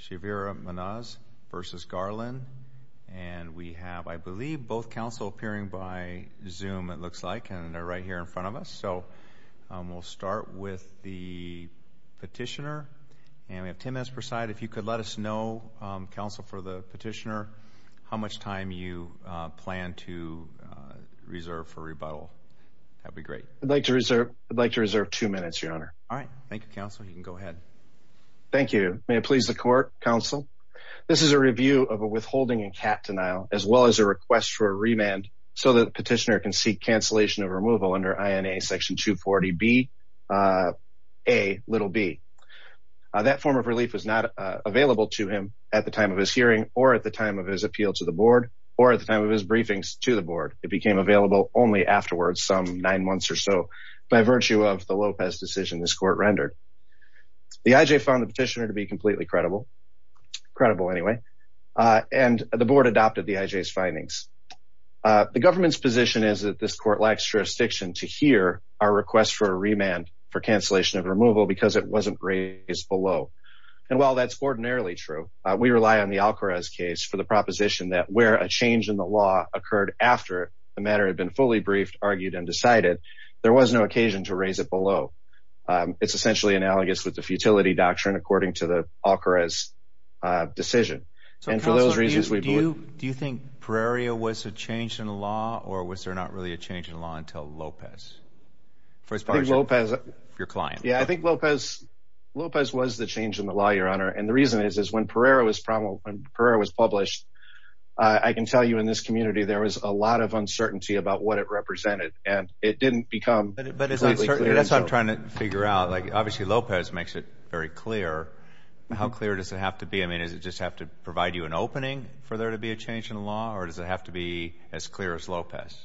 Chavira-Munoz v. Garland and we have I believe both counsel appearing by zoom it looks like and they're right here in front of us so we'll start with the petitioner and we have 10 minutes per side if you could let us know counsel for the petitioner how much time you plan to reserve for rebuttal that'd be great I'd like to reserve I'd like to reserve two minutes your honor all right Thank You counsel you can go ahead thank you may it please the court counsel this is a review of a withholding and cat denial as well as a request for a remand so that petitioner can seek cancellation of removal under INA section 240 B a little B that form of relief was not available to him at the time of his hearing or at the time of his appeal to the board or at the time of his briefings to the board it became available only afterwards some nine months or so by virtue of the Lopez decision this court rendered the IJ found the petitioner to be completely credible credible anyway and the board adopted the IJ's findings the government's position is that this court lacks jurisdiction to hear our request for a remand for cancellation of removal because it wasn't raised below and while that's ordinarily true we rely on the Alcoraz case for the proposition that where a change in the law occurred after the matter had been fully briefed argued and decided there was no occasion to raise it below it's essentially analogous with the futility doctrine according to the Alcoraz decision and for those reasons we do do you think Prairie was a change in the law or was there not really a change in law until Lopez first part of Lopez your client yeah I think Lopez Lopez was the change in the law your honor and the reason is is when Pereira was probably when I can tell you in this community there was a lot of uncertainty about what it represented and it didn't become but it but it's certainly that's I'm trying to figure out like obviously Lopez makes it very clear how clear does it have to be I mean is it just have to provide you an opening for there to be a change in law or does it have to be as clear as Lopez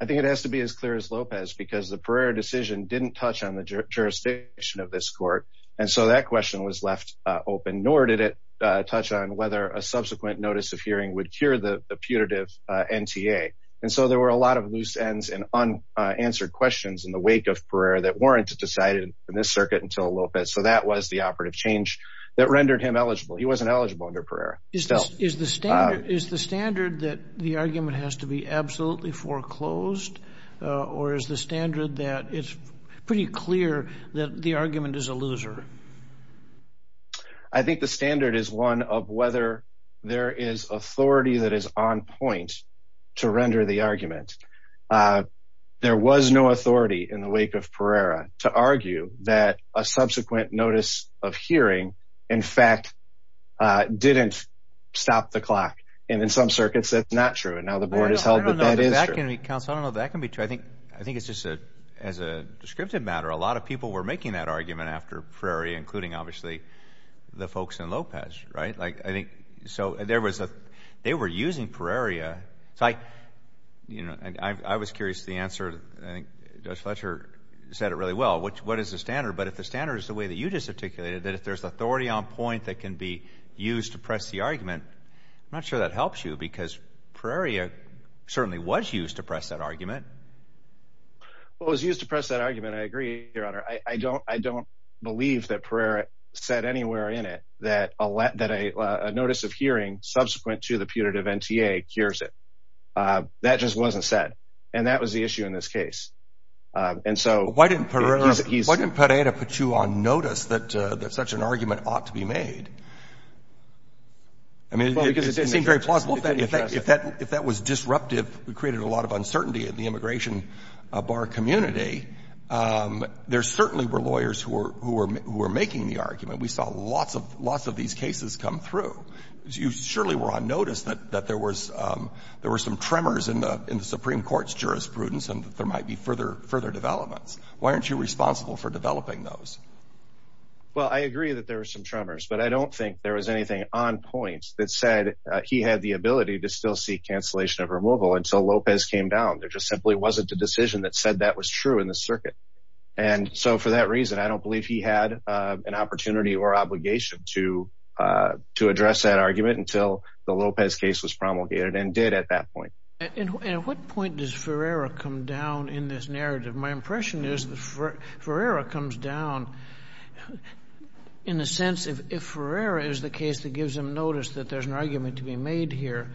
I think it has to be as clear as Lopez because the prayer decision didn't touch on the jurisdiction of this court and so that question was left open nor did it touch on whether a subsequent notice of hearing would cure the putative NTA and so there were a lot of loose ends and unanswered questions in the wake of prayer that warranted decided in this circuit until Lopez so that was the operative change that rendered him eligible he wasn't eligible under prayer is the standard is the standard that the argument has to be absolutely foreclosed or is the standard that it's pretty clear that the argument is a loser I think the standard is one of whether there is authority that is on point to render the argument there was no authority in the wake of Pereira to argue that a subsequent notice of hearing in fact didn't stop the clock and in some circuits that's not true and now the board is held but that is that can be counsel no that can be true I think I think it's just a as a descriptive matter a lot of people were making that argument after Prairie including obviously the folks in Lopez right like I think so there was a they were using Prairie a site you know and I was curious the answer I think Dutch Fletcher said it really well which what is the standard but if the standard is the way that you just articulated that if there's authority on point that can be used to press the argument I'm not sure that helps you because Prairie a certainly was used to press that argument what was used to press that argument I agree your honor I don't I don't believe that Prairie said anywhere in it that a lot that a notice of hearing subsequent to the punitive NTA cures it that just wasn't said and that was the issue in this case and so why didn't Prairie put you on notice that there's such an argument ought to be made I mean if that if that was disruptive we created a lot of uncertainty at the immigration bar community there certainly were lawyers who were making the argument we saw lots of lots of these cases come through you surely were on notice that that there was there were some tremors in the Supreme Court's jurisprudence and there might be further further developments why aren't you responsible for developing those well I agree that there are some tremors but I don't think there was anything on points that said he had the ability to still see cancellation of removal and so Lopez came down there just simply wasn't a decision that said that was true in the circuit and so for that reason I don't believe he had an opportunity or obligation to to address that argument until the Lopez case was promulgated and did at that point and at what point does Ferreira come down in this narrative my impression is the Ferreira comes down in the sense of if Ferreira is the case that gives him notice that there's an argument to be made here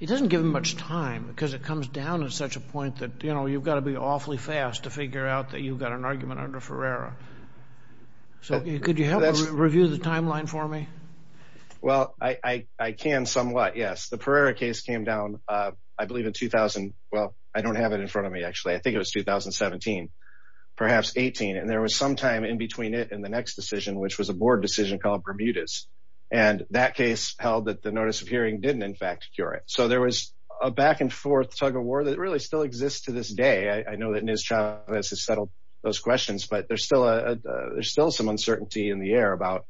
it doesn't give him much time because it comes down at such a point that you know you've got to be awfully fast to figure out that you've got an argument under Ferreira so could you review the timeline for me well I I can somewhat yes the Pereira case came down I believe in 2000 well I don't have it in front of me actually I think it was 2017 perhaps 18 and there was some time in between it and the next decision which was a board decision called Bermuda's and that case held that the notice of hearing didn't in fact cure it so there was a back-and-forth tug-of-war that really still exists to this day I know that Ms. Chavez has settled those questions but there's still a there's still some uncertainty in the air about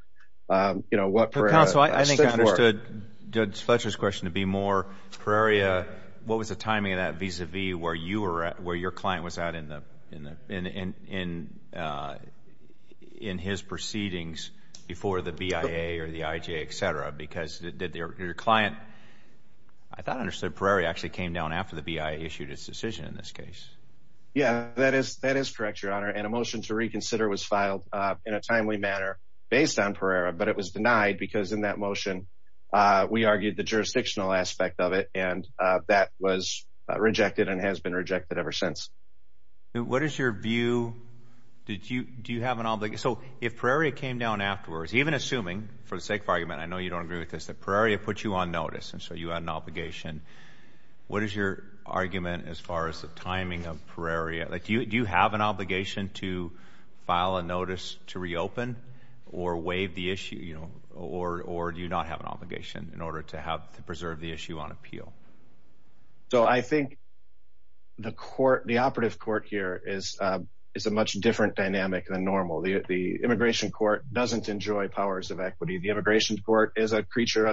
you know what per council I think I understood Judge Fletcher's question to be more Ferreira what was the timing of that vis-a-vis where you were at where your client was out in the in the in in in his proceedings before the BIA or the IJ etc because did their client I thought understood Prairie actually came down after the BIA issued its decision in this case yeah that is that is correct your honor and a motion to reconsider was filed in a timely manner based on Pereira but it was denied because in that motion we argued the jurisdictional aspect of it and that was rejected and has been rejected ever since what is your view did you do you have an obligation so if Prairie came down afterwards even assuming for the Prairie of put you on notice and so you had an obligation what is your argument as far as the timing of Prairie like you do you have an obligation to file a notice to reopen or waive the issue you know or or do you not have an obligation in order to have to preserve the issue on appeal so I think the court the operative court here is it's a much different dynamic than normal the immigration court doesn't enjoy powers of equity the immigration court is a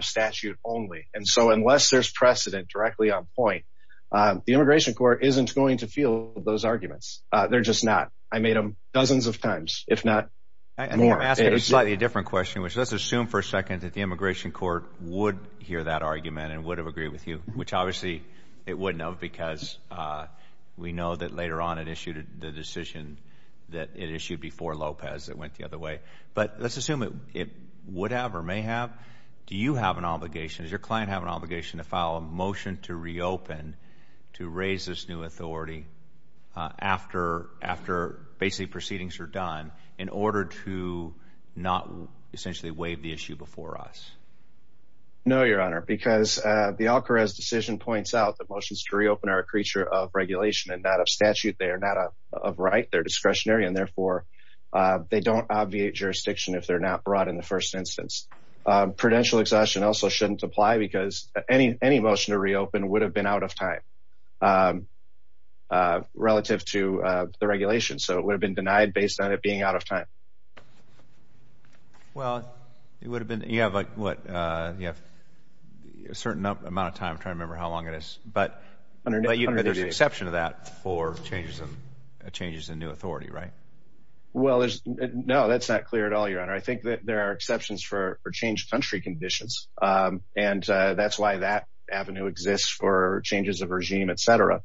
statute only and so unless there's precedent directly on point the immigration court isn't going to feel those arguments they're just not I made them dozens of times if not and we're asking a slightly different question which let's assume for a second that the immigration court would hear that argument and would have agreed with you which obviously it wouldn't have because we know that later on it issued the decision that it issued before Lopez that the other way but let's assume it would have or may have do you have an obligation as your client have an obligation to file a motion to reopen to raise this new authority after after basically proceedings are done in order to not essentially waive the issue before us no your honor because the Alcarez decision points out that motions to reopen our creature of regulation and that of statute they are not a right they're discretionary and therefore they don't obviate jurisdiction if they're not brought in the first instance prudential exhaustion also shouldn't apply because any any motion to reopen would have been out of time relative to the regulation so it would have been denied based on it being out of time well it would have been you have like what you have a certain amount of time trying to remember how long it is but under you know there's an exception to that for changes and changes in new authority right well there's no that's not clear at all your honor I think that there are exceptions for change country conditions and that's why that Avenue exists for changes of regime etc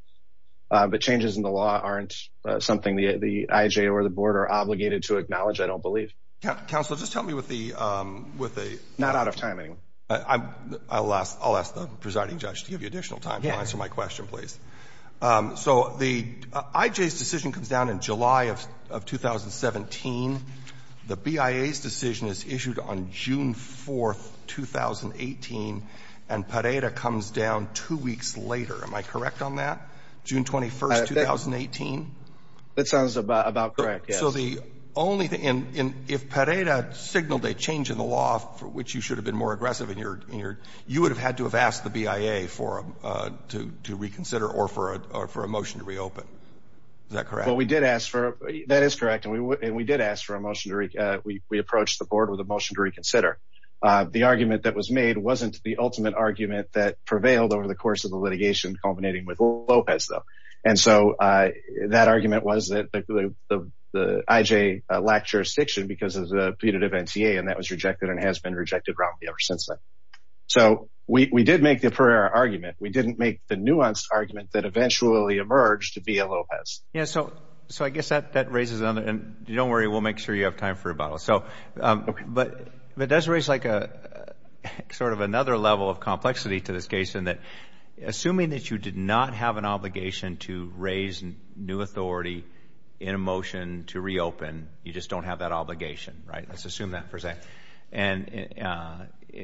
but changes in the law aren't something the the IJ or the board are obligated to acknowledge I don't believe council just help me with the with a not out of timing I'm I'll ask I'll ask the presiding judge to give you additional time to answer my question please so the IJ's decision comes down in July of 2017 the BIA's decision is issued on June 4th 2018 and Pareda comes down two weeks later am I correct on that June 21st 2018 that sounds about correct so the only thing in if Pareda signaled a change in the law for which you should have been more aggressive in your you would have had to have the BIA for him to reconsider or for a motion to reopen is that correct well we did ask for that is correct and we would and we did ask for a motion to reach we approached the board with a motion to reconsider the argument that was made wasn't the ultimate argument that prevailed over the course of the litigation culminating with Lopez though and so that argument was that the IJ lacked jurisdiction because of the punitive NCA and that was rejected and we did make the Pareda argument we didn't make the nuanced argument that eventually emerged to be a Lopez yeah so so I guess that that raises another and don't worry we'll make sure you have time for a bottle so but but does raise like a sort of another level of complexity to this case in that assuming that you did not have an obligation to raise new authority in a motion to reopen you just don't have that obligation right let's assume that for and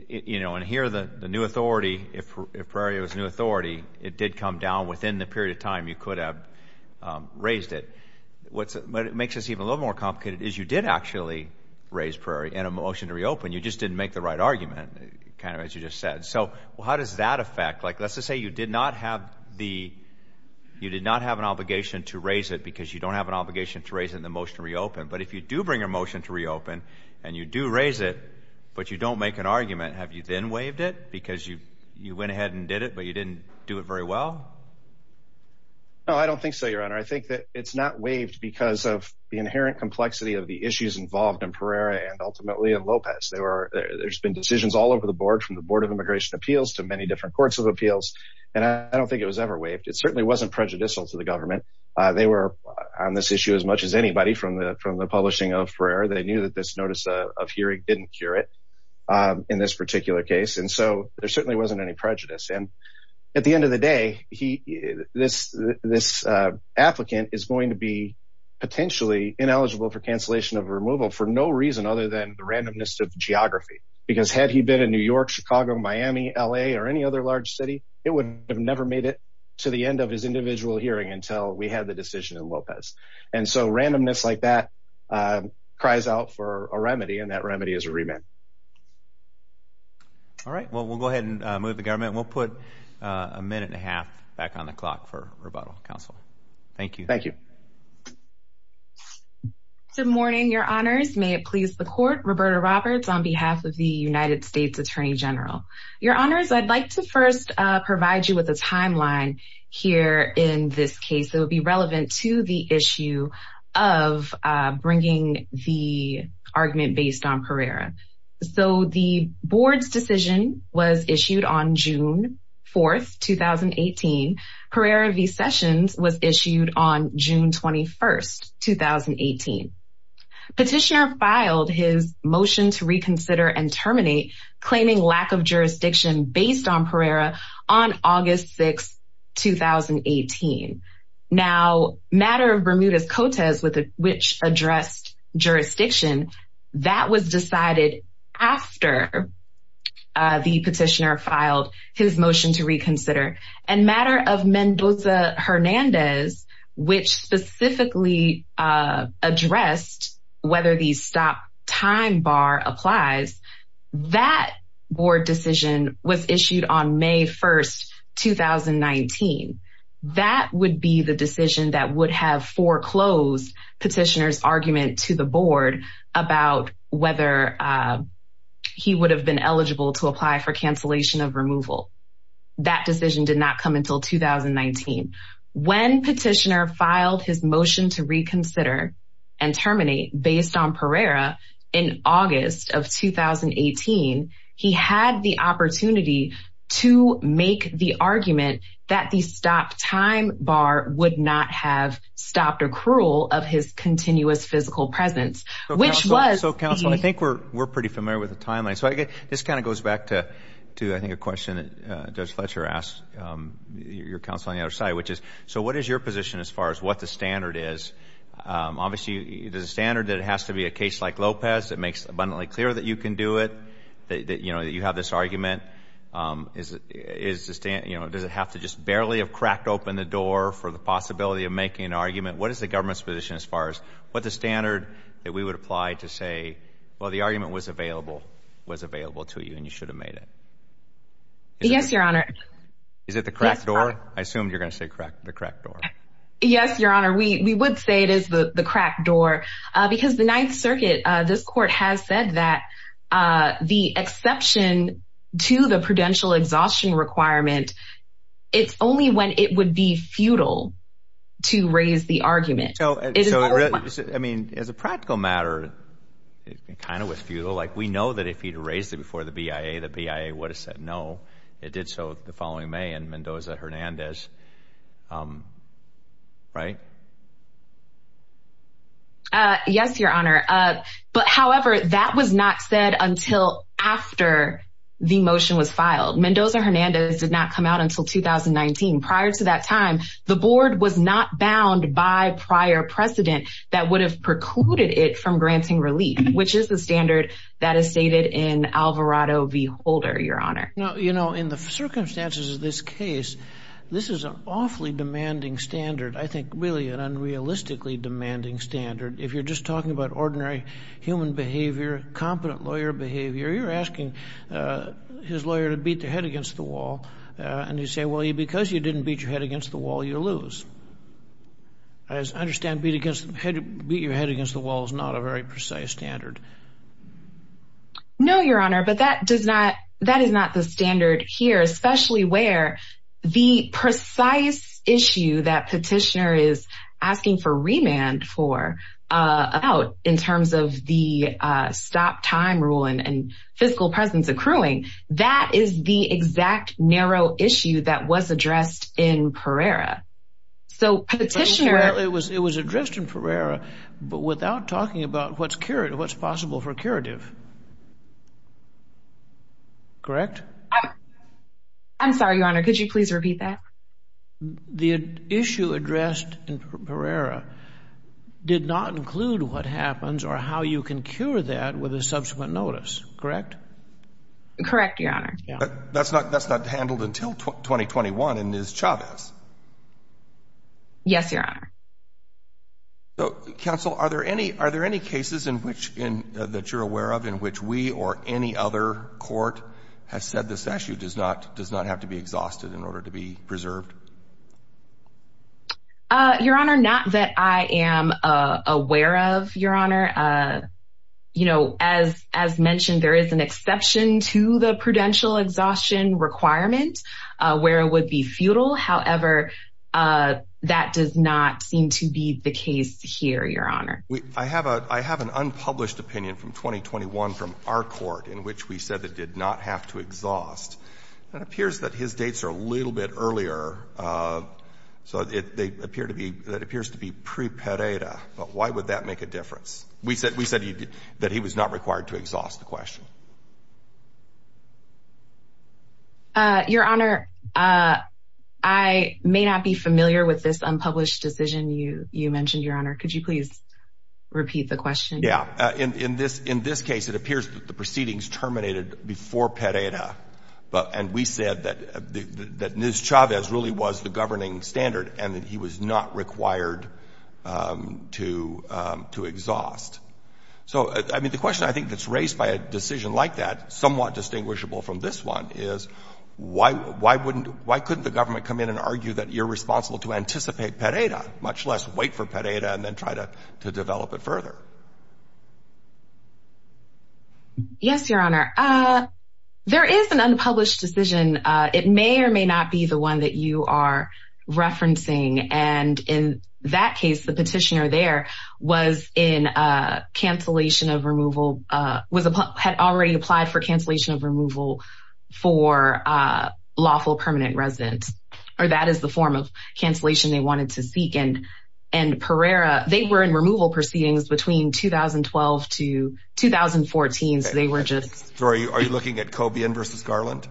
you know and here the the new authority if Prairie was new authority it did come down within the period of time you could have raised it what's it but it makes us even a little more complicated is you did actually raise Prairie and a motion to reopen you just didn't make the right argument kind of as you just said so well how does that affect like let's just say you did not have the you did not have an obligation to raise it because you don't have an obligation to raise in the motion reopen but if you do bring a motion to reopen and you do raise it but you don't make an argument have you then waived it because you you went ahead and did it but you didn't do it very well no I don't think so your honor I think that it's not waived because of the inherent complexity of the issues involved in Prairie and ultimately in Lopez they were there's been decisions all over the board from the Board of Immigration Appeals to many different courts of appeals and I don't think it was ever waived it certainly wasn't prejudicial to the government they were on this issue as much as anybody from the from the publishing of prayer they knew that this notice of hearing didn't cure it in this particular case and so there certainly wasn't any prejudice and at the end of the day he this this applicant is going to be potentially ineligible for cancellation of removal for no reason other than the randomness of geography because had he been in New York Chicago Miami LA or any other large city it would have never made it to the so randomness like that cries out for a remedy and that remedy is a remit all right well we'll go ahead and move the government we'll put a minute and a half back on the clock for rebuttal counsel thank you thank you good morning your honors may it please the court Roberta Roberts on behalf of the United States Attorney General your honors I'd like to first provide you with a timeline here in this case that would be relevant to the issue of bringing the argument based on Pereira so the board's decision was issued on June 4th 2018 Pereira v Sessions was issued on June 21st 2018 petitioner filed his motion to reconsider and terminate claiming lack of jurisdiction based on Pereira on June 4th 2018 now matter of Bermuda's Cotas with which addressed jurisdiction that was decided after the petitioner filed his motion to reconsider and matter of Mendoza Hernandez which specifically addressed whether these stop time bar applies that board decision was issued on May 1st 2019 that would be the decision that would have foreclosed petitioners argument to the board about whether he would have been eligible to apply for cancellation of removal that decision did not come until 2019 when petitioner filed his motion to in August of 2018 he had the opportunity to make the argument that the stop time bar would not have stopped accrual of his continuous physical presence which was so counsel I think we're we're pretty familiar with the timeline so I get this kind of goes back to to I think a question that does Fletcher asked your counsel on the other side which is so what is your position as far as what the standard is obviously the standard that has to be a case like Lopez it makes abundantly clear that you can do it that you know that you have this argument is it is the stand you know does it have to just barely have cracked open the door for the possibility of making an argument what is the government's position as far as what the standard that we would apply to say well the argument was available was available to you and you should have made it yes your honor is it the crack door I assumed you're gonna say correct the yes your honor we we would say it is the the crack door because the Ninth Circuit this court has said that the exception to the prudential exhaustion requirement it's only when it would be futile to raise the argument so I mean as a practical matter it kind of was futile like we know that if he'd raised it before the BIA the BIA would have said no it did so the following May and right yes your honor but however that was not said until after the motion was filed Mendoza Hernandez did not come out until 2019 prior to that time the board was not bound by prior precedent that would have precluded it from granting relief which is the standard that is stated in Alvarado v. Holder your honor no you know in the circumstances of this case this is an awfully demanding standard I think really an unrealistically demanding standard if you're just talking about ordinary human behavior competent lawyer behavior you're asking his lawyer to beat their head against the wall and you say well you because you didn't beat your head against the wall you lose as I understand beat against the head beat your head against the wall is not a very standard here especially where the precise issue that petitioner is asking for remand for out in terms of the stop time rule and and physical presence accruing that is the exact narrow issue that was addressed in Pereira so petitioner it was it was addressed in Pereira but without talking about what's what's possible for curative correct I'm sorry your honor could you please repeat that the issue addressed in Pereira did not include what happens or how you can cure that with a subsequent notice correct correct your honor that's not that's not handled until 2021 and is Chavez yes your honor so counsel are there any are there any cases in which in that you're aware of in which we or any other court has said this issue does not does not have to be exhausted in order to be preserved your honor not that I am aware of your honor you know as as mentioned there is an exception to the prudential exhaustion requirement where it would be futile however that does not seem to be the case here your honor we I have a I have an unpublished opinion from 2021 from our court in which we said that did not have to exhaust that appears that his dates are a little bit earlier so they appear to be that appears to be prepaid a but why would that make a difference we said we said you did that he was not required to exhaust the question your honor I may not be familiar with this unpublished decision you you mentioned your honor could you please repeat the question yeah in this in this case it appears that the proceedings terminated before pereda but and we said that that news Chavez really was the governing standard and that he was not required to to exhaust so I mean the question I think that's raised by a decision like that somewhat distinguishable from this one is why why wouldn't why couldn't the government come in and argue that you're much less wait for pereda and then try to to develop it further yes your honor there is an unpublished decision it may or may not be the one that you are referencing and in that case the petitioner there was in a cancellation of removal was had already applied for cancellation of removal for lawful permanent residence or that is the form of cancellation they wanted to seek and and Pereira they were in removal proceedings between 2012 to 2014 so they were just sorry are you looking at Cobian vs. Garland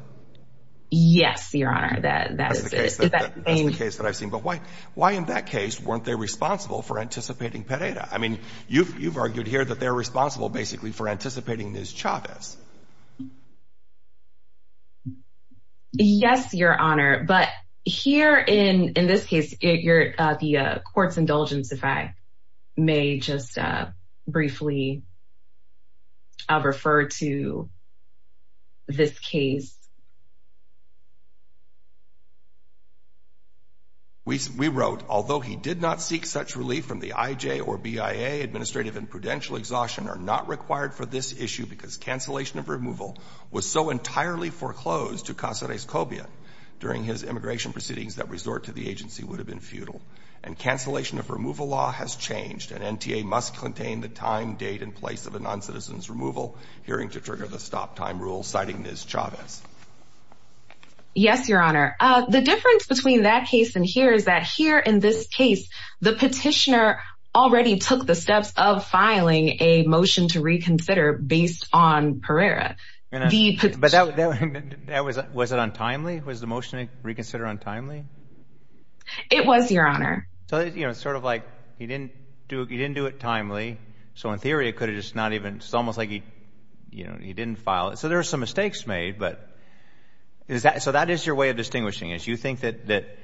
yes your honor that that's the case that I've seen but why why in that case weren't they responsible for anticipating pereda I mean you've you've argued here that they're basically for anticipating news Chavez yes your honor but here in in this case if you're the court's indulgence if I may just briefly refer to this case we wrote although he did not seek such relief from the IJ or BIA administrative and prudential exhaustion are not required for this issue because cancellation of removal was so entirely foreclosed to Casa des Cobias during his immigration proceedings that resort to the agency would have been futile and cancellation of removal law has changed and NTA must contain the time date and place of a non-citizens removal hearing to trigger the stop time rule citing this job yes your honor the difference between that case and here is that here in this case the petitioner already took the steps of filing a motion to reconsider based on Pereira was it untimely was the motion reconsider untimely it was your honor so you know sort of like he didn't do it he didn't do it timely so in theory it could have just not even it's almost like he you know he didn't file it so there are some mistakes made but is that so that is your way of distinguishing is you think that that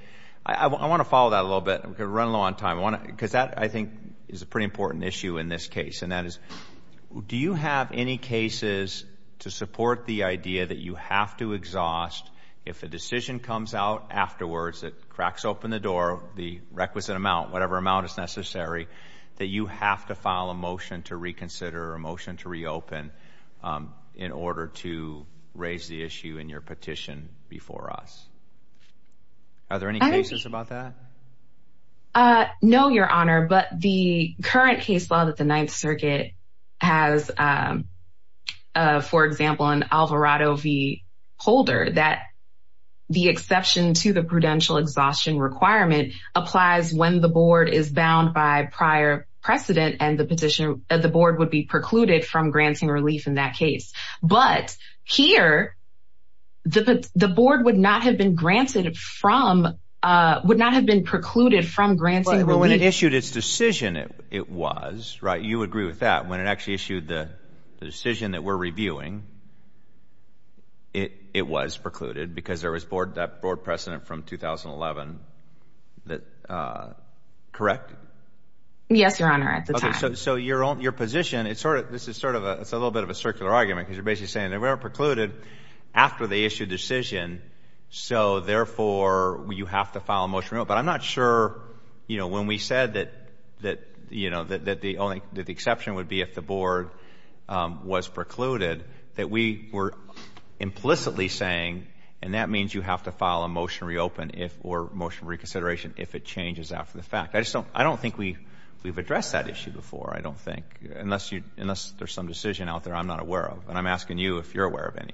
I want to follow that a little bit we could run low on time I want to because that I think is a pretty important issue in this case and that is do you have any cases to support the idea that you have to exhaust if the decision comes out afterwards that cracks open the door the requisite amount whatever amount is necessary that you have to file a motion to reconsider a motion to reopen in order to raise the no your honor but the current case law that the Ninth Circuit has for example an Alvarado V holder that the exception to the prudential exhaustion requirement applies when the board is bound by prior precedent and the petitioner at the board would be precluded from granting relief in that case but here the the board would not have been granted from would not have been precluded from granting well when it issued its decision it was right you agree with that when it actually issued the decision that we're reviewing it it was precluded because there was board that board precedent from 2011 that correct yes your honor at the time so your own your position it's sort of this is sort of a it's a little bit of a circular argument because you're basically saying they weren't precluded after they issued decision so therefore you have to file a motion but I'm not sure you know when we said that that you know that the only that the exception would be if the board was precluded that we were implicitly saying and that means you have to file a motion reopen if or motion reconsideration if it changes after the fact I just don't I don't think we we've addressed that issue before I don't think unless you unless there's some decision out there I'm not aware of and I'm asking you if you're aware of any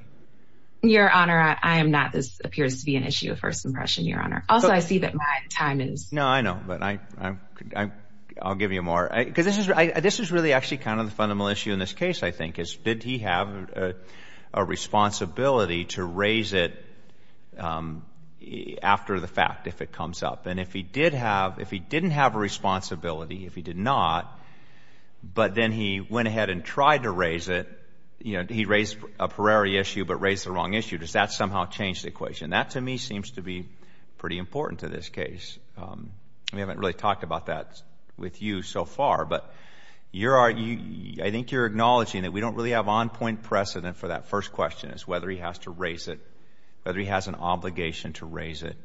your honor I am NOT this appears to be an issue of first impression your honor also I see that my time is no I know but I I'll give you a more because this is this is really actually kind of the fundamental issue in this case I think is did he have a responsibility to raise it after the fact if it comes up and if he did have if he didn't have a responsibility if he did not but then he went ahead and tried to raise it you know he raised a temporary issue but raised the wrong issue does that somehow change the equation that to me seems to be pretty important to this case we haven't really talked about that with you so far but you're are you I think you're acknowledging that we don't really have on-point precedent for that first question is whether he has to raise it whether he has an obligation to raise it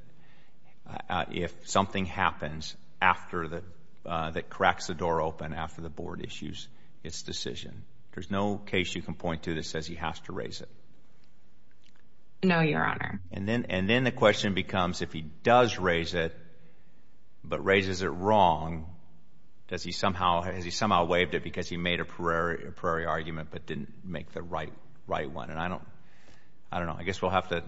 if something happens after the that cracks the door open after the board issues its decision there's no case you can point to that says he has to raise it no your honor and then and then the question becomes if he does raise it but raises it wrong does he somehow has he somehow waived it because he made a prairie a prairie argument but didn't make the right right one and I don't I don't know I guess we'll have to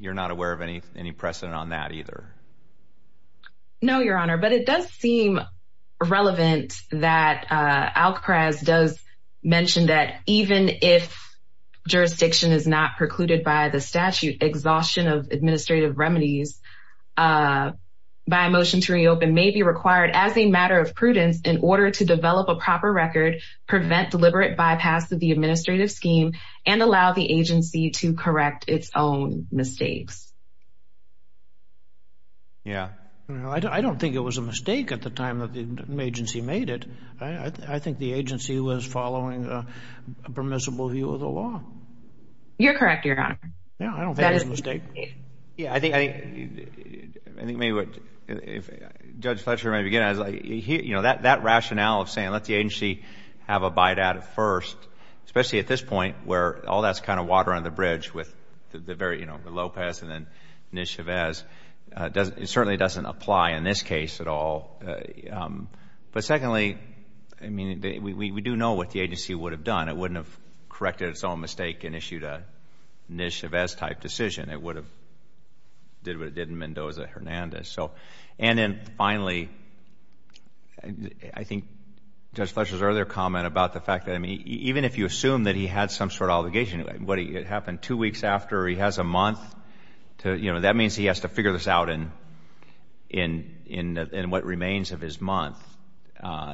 you're not aware of any any precedent on that either no your honor but it does seem relevant that Alcraz does mention that even if jurisdiction is not precluded by the statute exhaustion of administrative remedies by a motion to reopen may be required as a matter of prudence in order to develop a proper record prevent deliberate bypass of the administrative scheme and allow the agency to correct its own mistakes yeah I don't think it was a mistake at the time that the agency made it I think the permissible view of the law you're correct your honor yeah I don't that is mistake yeah I think I think maybe what if judge Fletcher may begin as I hear you know that that rationale of saying let the agency have a bite out of first especially at this point where all that's kind of water on the bridge with the very you know Lopez and then niche of as does it certainly doesn't apply in this case at all but secondly I mean we do know what the agency would have done it wouldn't have corrected its own mistake and issued a niche of as type decision it would have did what it did in Mendoza Hernandez so and then finally I think judge Fletcher's earlier comment about the fact that I mean even if you assume that he had some sort of obligation what he it happened two weeks after he has a month to you know that means he has to figure this out in in in in what remains of his month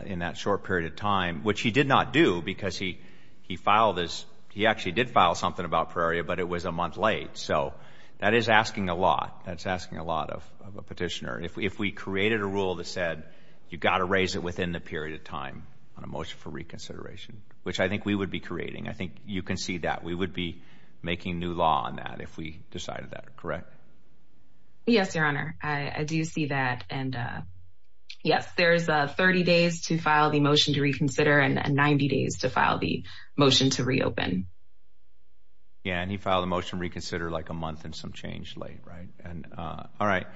in that short period of time which he did not do because he he filed as he actually did file something about Prairie but it was a month late so that is asking a lot that's asking a lot of a petitioner if we created a rule that said you got to raise it within the period of time on a motion for reconsideration which I think we would be creating I think you can see that we would be making new law on that if we decided that correct yes your honor I do see that and yes there's a 30 days to file the motion to reconsider and 90 days to file the motion to reopen yeah and he filed a motion reconsider like a month and some change late right and all right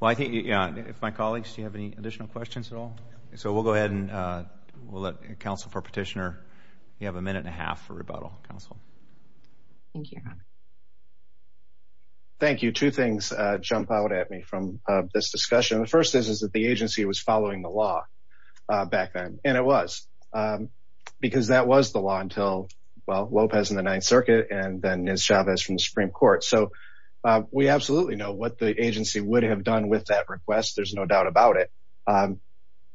well I think yeah if my colleagues do you have any additional questions at all so we'll go ahead and we'll let counsel for petitioner you have a minute and a half for rebuttal counsel thank you thank you two things jump out at me from this discussion the first is is that the agency was following the law back then and it was because that was the law until well Lopez in the Ninth Circuit and then his job is from the Supreme Court so we absolutely know what the agency would have done with that request there's no doubt about it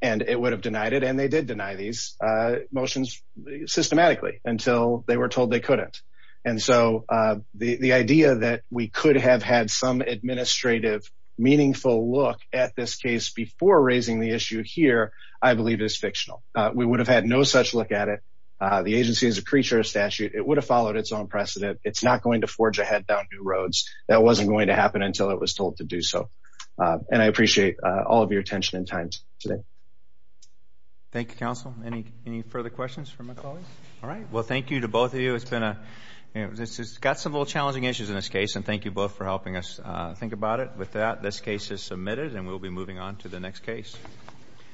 and it would have denied it and they did deny these motions systematically until they were told they couldn't and so the the idea that we could have had some administrative meaningful look at this case before raising the issue here I believe is fictional we would have had no such look at it the agency is a creature statute it would have followed its own precedent it's not going to forge ahead down new roads that wasn't going to happen until it was told to do so and I appreciate all of your attention in times today Thank You counsel any any further questions from my colleagues all right well thank you to both of you it's been a this has got some little challenging issues in this case and thank you both for helping us think about it with that this case is the next case